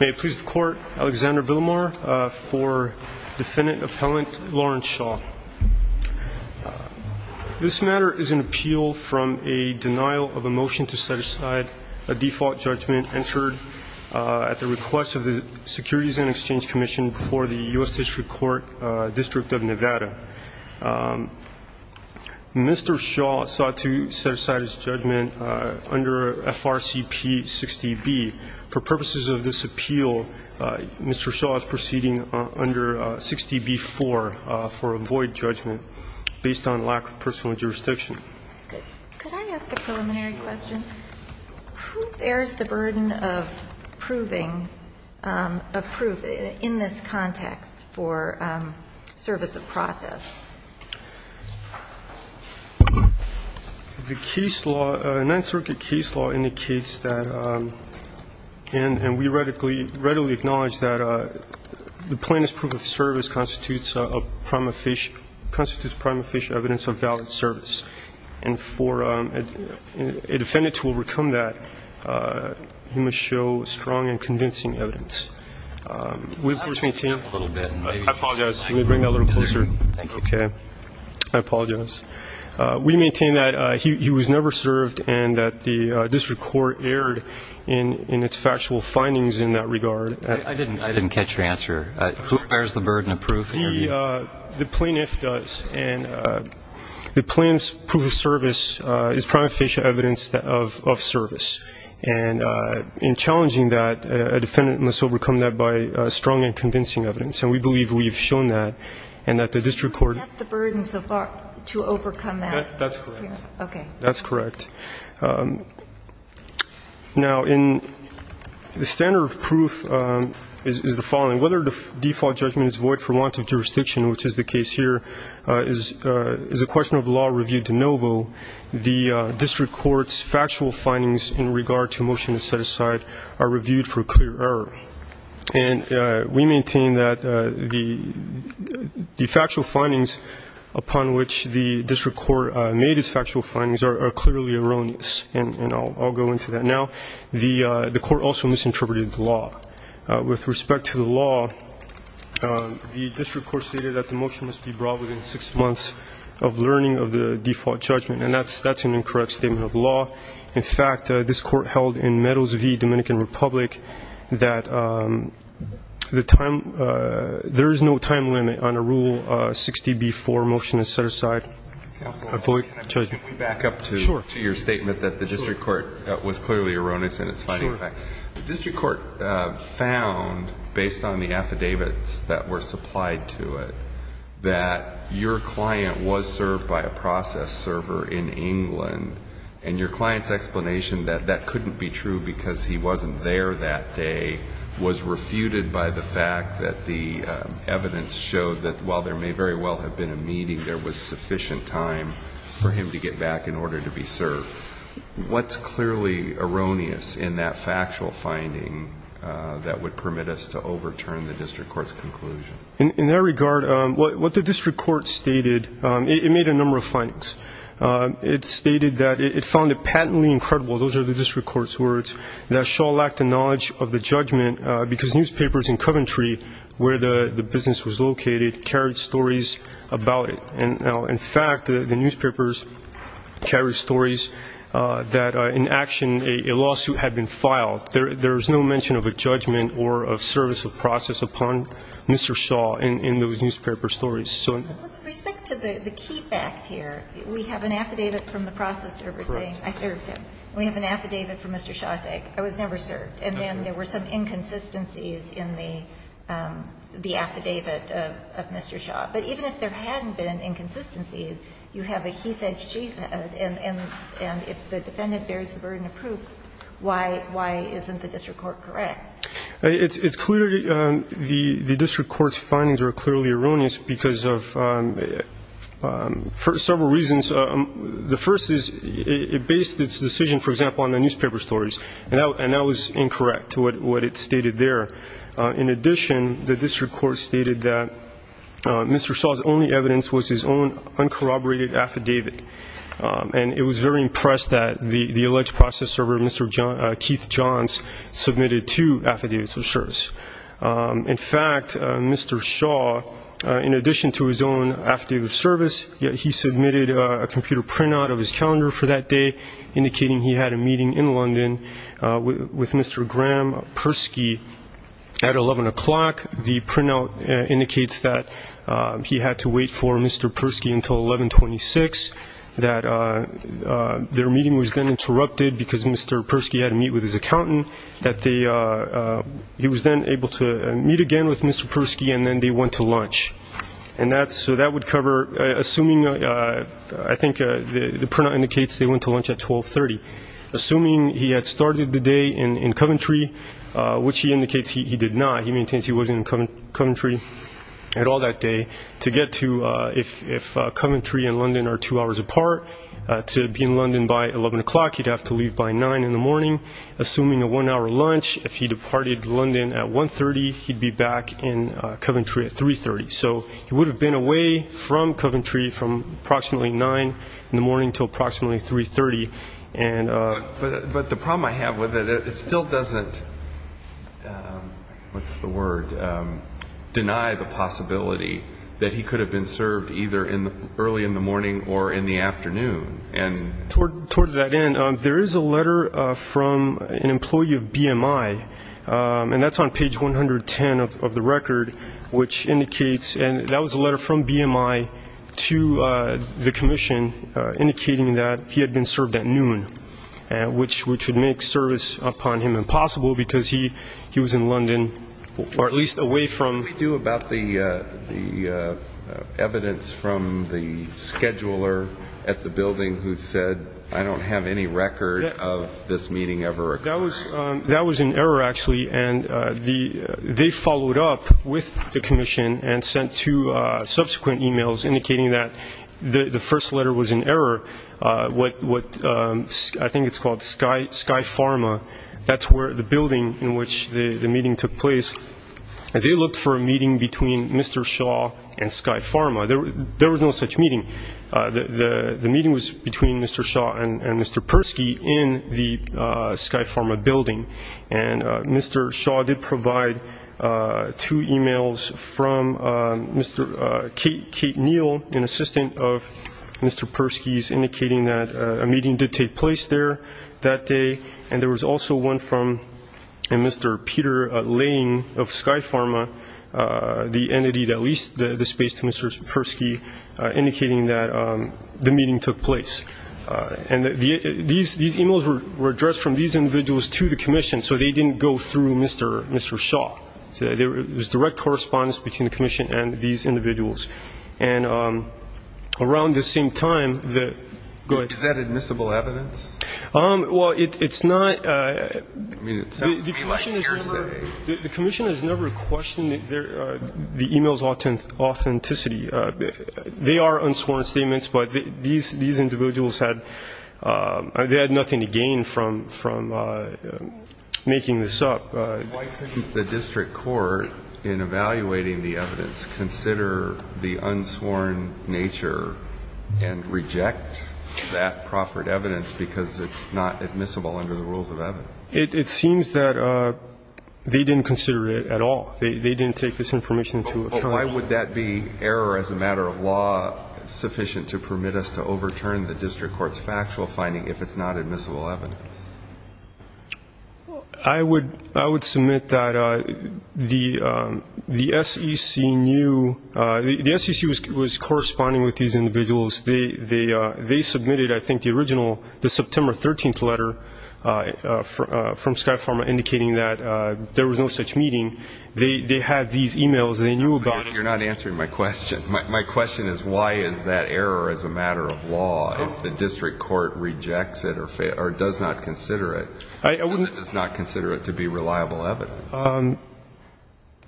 May it please the Court, Alexander Villamar for Defendant Appellant Lawrence Shaw. This matter is an appeal from a denial of a motion to set aside a default judgment entered at the request of the Securities and Exchange Commission before the U.S. District Court, District of Nevada. Mr. Shaw sought to set aside his judgment under FRCP 60B. For purposes of this appeal, Mr. Shaw is proceeding under 60B-4 for a void judgment based on lack of personal jurisdiction. Could I ask a preliminary question? Who bears the burden of proving a proof in this context for service of process? The case law, the Ninth Circuit case law indicates that, and we readily acknowledge that the plaintiff's proof of service constitutes a prima facie evidence of valid service. And for a defendant to overcome that, he must show strong and convincing evidence. We of course maintain that he was never served and that the District Court erred in its factual findings in that regard. I didn't catch your answer. Who bears the burden of proof? The plaintiff does. And the plaintiff's proof of service is prima facie evidence of service. And in challenging that, a defendant must overcome that by strong and convincing evidence. And we believe we have shown that and that the District Court — Who bears the burden to overcome that? That's correct. Okay. That's correct. Now, the standard of proof is the following. Whether the default judgment is void for want of jurisdiction, which is the case here, is a question of law reviewed de novo. The District Court's factual findings in regard to a motion to set aside are reviewed for clear error. And we maintain that the factual findings upon which the District Court made its factual findings are clearly erroneous. And I'll go into that now. The Court also misinterpreted the law. With respect to the law, the District Court stated that the motion must be brought within six months of learning of the default judgment. And that's an incorrect statement of law. In fact, this Court held in Meadows v. Dominican Republic that there is no time limit on a Rule 60b-4 motion to set aside a void judgment. Can we back up to your statement that the District Court was clearly erroneous in its finding? Sure. The District Court found, based on the affidavits that were supplied to it, that your client was served by a process server in England. And your client's explanation that that couldn't be true because he wasn't there that day was refuted by the fact that the evidence showed that, while there may very well have been a meeting, there was sufficient time for him to get back in order to be served. What's clearly erroneous in that factual finding that would permit us to overturn the District Court's conclusion? In that regard, what the District Court stated, it made a number of findings. It stated that it found it patently incredible, those are the District Court's words, that Shaw lacked the knowledge of the judgment because newspapers in Coventry, where the business was located, carried stories about it. And now, in fact, the newspapers carry stories that, in action, a lawsuit had been filed. There is no mention of a judgment or of service of process upon Mr. Shaw in those newspaper stories. With respect to the keep act here, we have an affidavit from the process server saying, I served him. We have an affidavit from Mr. Shaw saying, I was never served. And then there were some inconsistencies in the affidavit of Mr. Shaw. But even if there hadn't been inconsistencies, you have a he said, she said. And if the defendant bears the burden of proof, why isn't the District Court correct? It's clear the District Court's findings are clearly erroneous because of several reasons. The first is it based its decision, for example, on the newspaper stories. And that was incorrect to what it stated there. In addition, the District Court stated that Mr. Shaw's only evidence was his own uncorroborated affidavit. And it was very impressed that the alleged process server, Mr. Keith Johns, submitted two affidavits of service. In fact, Mr. Shaw, in addition to his own affidavit of service, yet he submitted a computer printout of his calendar for that day, indicating he had a meeting in London with Mr. Graham Persky at 11 o'clock. The printout indicates that he had to wait for Mr. Persky until 1126, that their meeting was then interrupted because Mr. Persky had to meet with his accountant, that he was then able to meet again with Mr. Persky, and then they went to lunch. And so that would cover, assuming, I think the printout indicates they went to lunch at 1230. Assuming he had started the day in Coventry, which he indicates he did not, he maintains he wasn't in Coventry at all that day, to get to, if Coventry and London are two hours apart, to be in London by 11 o'clock, he'd have to leave by 9 in the morning. Assuming a one-hour lunch, if he departed London at 1.30, he'd be back in Coventry at 3.30. So he would have been away from Coventry from approximately 9 in the morning until approximately 3.30. But the problem I have with it, it still doesn't, what's the word, deny the possibility that he could have been served either early in the morning or in the afternoon. Towards that end, there is a letter from an employee of BMI, and that's on page 110 of the record, which indicates, and that was a letter from BMI to the Commission, indicating that he had been served at noon, which would make service upon him impossible because he was in London, or at least away from. What did they do about the evidence from the scheduler at the building who said, I don't have any record of this meeting ever occurring? That was an error, actually, and they followed up with the Commission and sent two subsequent emails indicating that the first letter was an error. I think it's called Sky Pharma. That's the building in which the meeting took place. They looked for a meeting between Mr. Shaw and Sky Pharma. There was no such meeting. The meeting was between Mr. Shaw and Mr. Persky in the Sky Pharma building, and Mr. Shaw did provide two emails from Kate Neal, an assistant of Mr. Persky's, indicating that a meeting did take place there that day. There was also one from Mr. Peter Lane of Sky Pharma, the entity that leased the space to Mr. Persky, indicating that the meeting took place. These emails were addressed from these individuals to the Commission, so they didn't go through Mr. Shaw. There was direct correspondence between the Commission and these individuals. And around this same time, the – go ahead. Is that admissible evidence? Well, it's not – I mean, it sounds to me like you're saying – they are unsworn statements, but these individuals had – they had nothing to gain from making this up. Why couldn't the district court, in evaluating the evidence, consider the unsworn nature and reject that proffered evidence because it's not admissible under the rules of evidence? It seems that they didn't consider it at all. They didn't take this information into account. Why would that be error as a matter of law sufficient to permit us to overturn the district court's factual finding if it's not admissible evidence? I would submit that the SEC knew – the SEC was corresponding with these individuals. They submitted, I think, the original – the September 13th letter from Sky Pharma indicating that there was no such meeting. They had these emails and they knew about – You're not answering my question. My question is why is that error as a matter of law if the district court rejects it or does not consider it? I wouldn't – Because it does not consider it to be reliable evidence.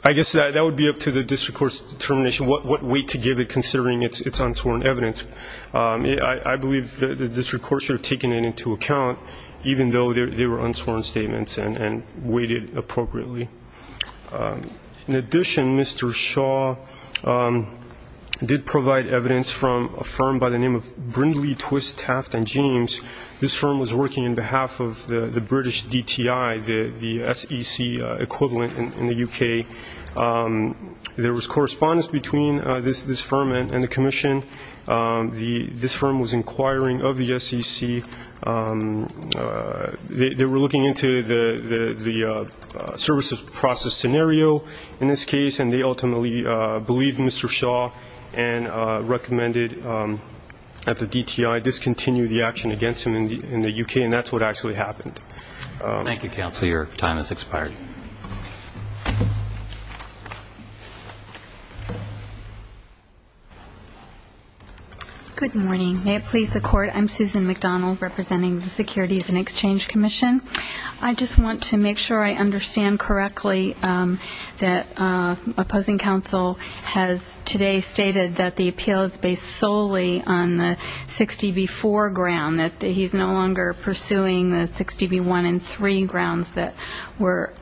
I guess that would be up to the district court's determination, what weight to give it considering it's unsworn evidence. I believe the district court should have taken it into account even though they were unsworn statements and weighted appropriately. In addition, Mr. Shaw did provide evidence from a firm by the name of Brindley, Twist, Taft & James. This firm was working on behalf of the British DTI, the SEC equivalent in the UK. There was correspondence between this firm and the commission. This firm was inquiring of the SEC. They were looking into the service process scenario in this case and they ultimately believed Mr. Shaw and recommended at the DTI discontinue the action against him in the UK and that's what actually happened. Thank you, counsel. Your time has expired. Good morning. May it please the court, I'm Susan McDonald representing the Securities and Exchange Commission. I just want to make sure I understand correctly that opposing counsel has today stated that the appeal is based solely on the 60B4 ground, that he's no longer pursuing the 60B1 and 3 grounds that were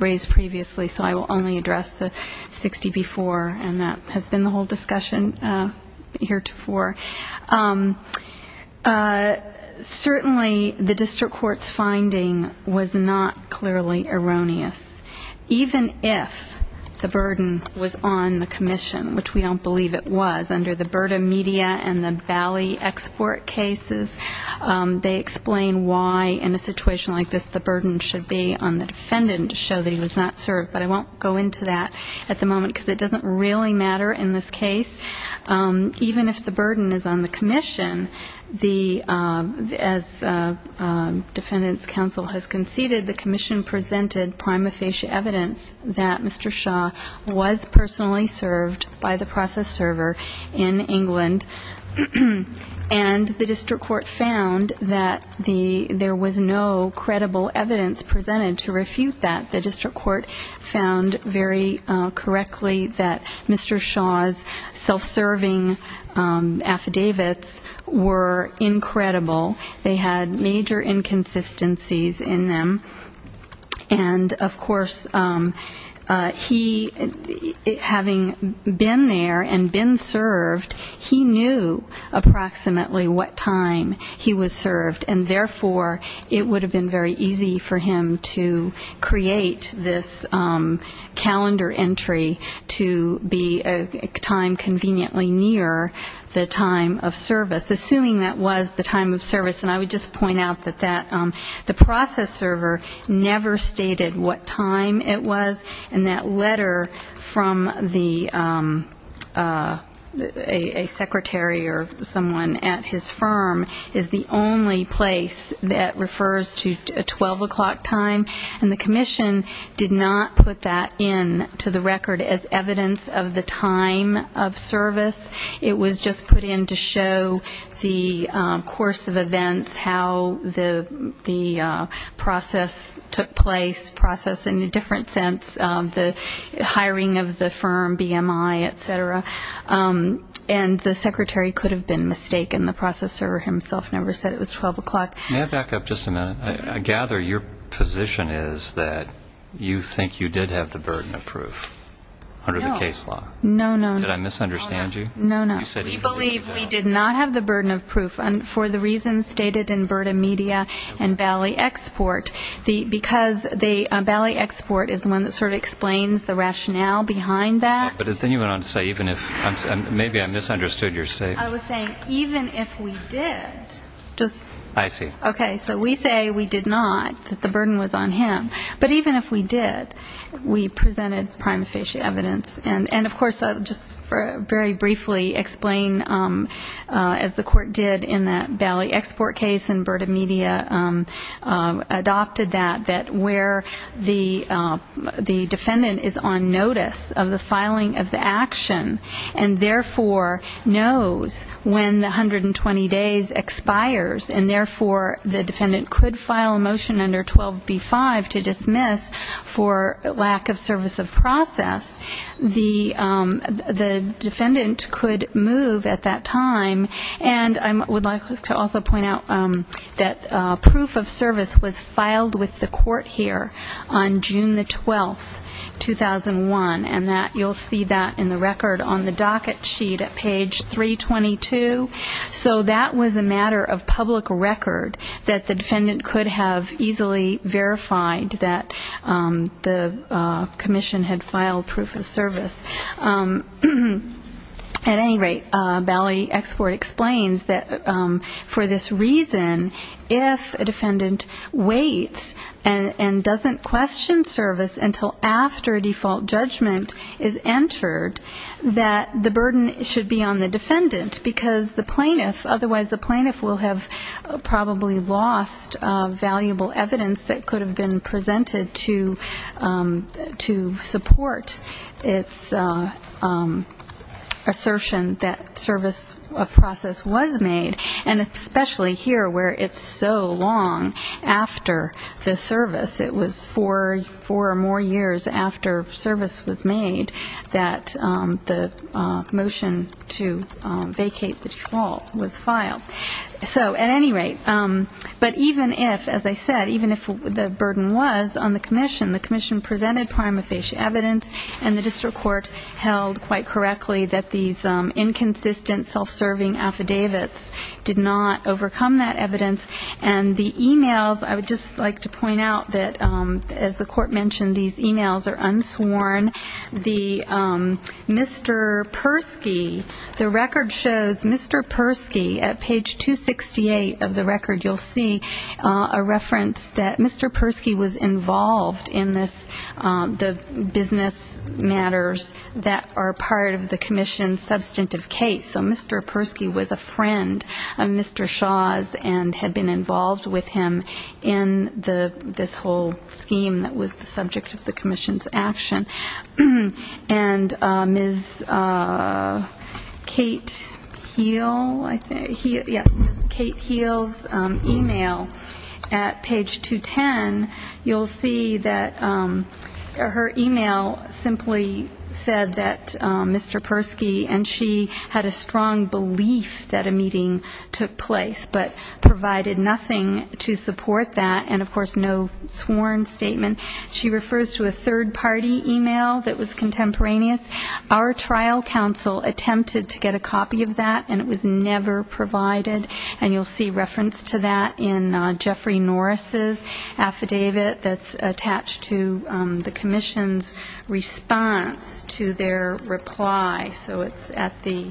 raised previously, so I will only address the 60B4 and that has been the whole discussion heretofore. Certainly the district court's finding was not clearly erroneous. Even if the burden was on the commission, which we don't believe it was, under the Burda Media and the Valley Export cases, they explain why in a situation like this the burden should be on the defendant to show that he was not served, but I won't go into that at the moment because it doesn't really matter in this case. Even if the burden is on the commission, as defendant's counsel has conceded, the commission presented prima facie evidence that Mr. Shaw was personally served by the process server in England and the district court found that there was no credible evidence presented to refute that. The district court found very correctly that Mr. Shaw's self-serving affidavits were incredible. They had major inconsistencies in them and of course, having been there and been served, he knew approximately what time he was served and therefore it would have been very easy for him to create this calendar entry to be a time conveniently near the time of service, assuming that was the time of service. And I would just point out that the process server never stated what time it was and that letter from a secretary or someone at his firm is the only place that refers to a 12 o'clock time and the commission did not put that in to the record as evidence of the time of service. It was just put in to show the course of events, how the process took place, process in a different sense, the hiring of the firm, BMI, etc. And the secretary could have been mistaken. The process server himself never said it was 12 o'clock. May I back up just a minute? I gather your position is that you think you did have the burden of proof under the case law. Did I misunderstand you? We believe we did not have the burden of proof for the reasons stated in Berta Media and Bally Export because Bally Export is the one that sort of explains the rationale behind that. Maybe I misunderstood your statement. I was saying even if we did, so we say we did not, that the burden was on him, but even if we did, we presented prima facie evidence and of course I'll just very briefly explain as the court did in that Bally Export case and Berta Media adopted that that where the defendant is on notice of the filing of the action and therefore knows when the 120 days expires and therefore the defendant could file a motion under 12B5 to dismiss for lack of service of process, the defendant could move at that time and I would like to also point out that proof of service was filed with the court here on June the 12th, 2001 and you'll see that in the record on the docket sheet at page 322 so that was a matter of public record that the defendant could have easily verified that the commission had filed proof of service. At any rate, Bally Export explains that for this reason if a defendant waits and doesn't question service until after a default judgment is entered that the burden should be on the defendant because otherwise the plaintiff will have probably lost valuable evidence that could have been presented to support its assertion that service of process was made and especially here where it's so long after the service it was four or more years after service was made that the motion to vacate the default was filed so at any rate but even if, as I said even if the burden was on the commission the commission presented prima facie evidence and the district court held quite correctly that these inconsistent self-serving affidavits did not overcome that evidence and the emails, I would just like to point out that as the court mentioned these emails are unsworn the Mr. Persky the record shows Mr. Persky at page 268 of the record you'll see a reference that Mr. Persky was involved in the business matters that are part of the commission's substantive case so Mr. Persky was a friend of Mr. Shaw's and had been involved with him in this whole scheme that was the subject of the commission's action and Ms. Kate Heal's email at page 210 you'll see that her email simply said that Mr. Persky and she had a strong belief that a meeting took place but provided nothing to support that and of course no sworn statement she refers to a third party email that was contemporaneous our trial counsel attempted to get a copy of that and it was never provided and you'll see reference to that in Jeffrey Norris' affidavit that's attached to the commission's response to their reply so it's at the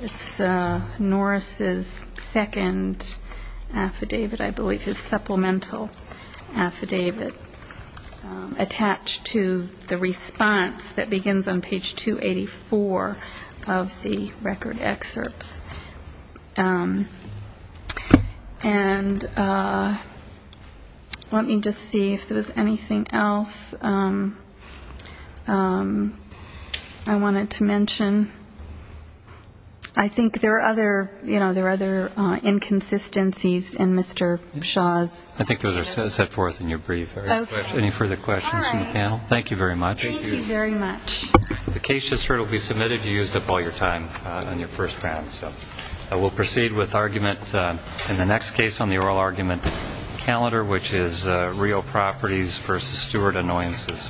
it's Norris' second affidavit I believe his supplemental affidavit attached to the response that begins on page 284 of the record excerpts and let me just see if there was anything else I wanted to mention I think there are other inconsistencies in Mr. Shaw's I think those are set forth in your brief Any further questions from the panel? Thank you very much The case just heard will be submitted You used up all your time on your first round We'll proceed with argument in the next case on the oral argument calendar which is real properties versus steward annoyances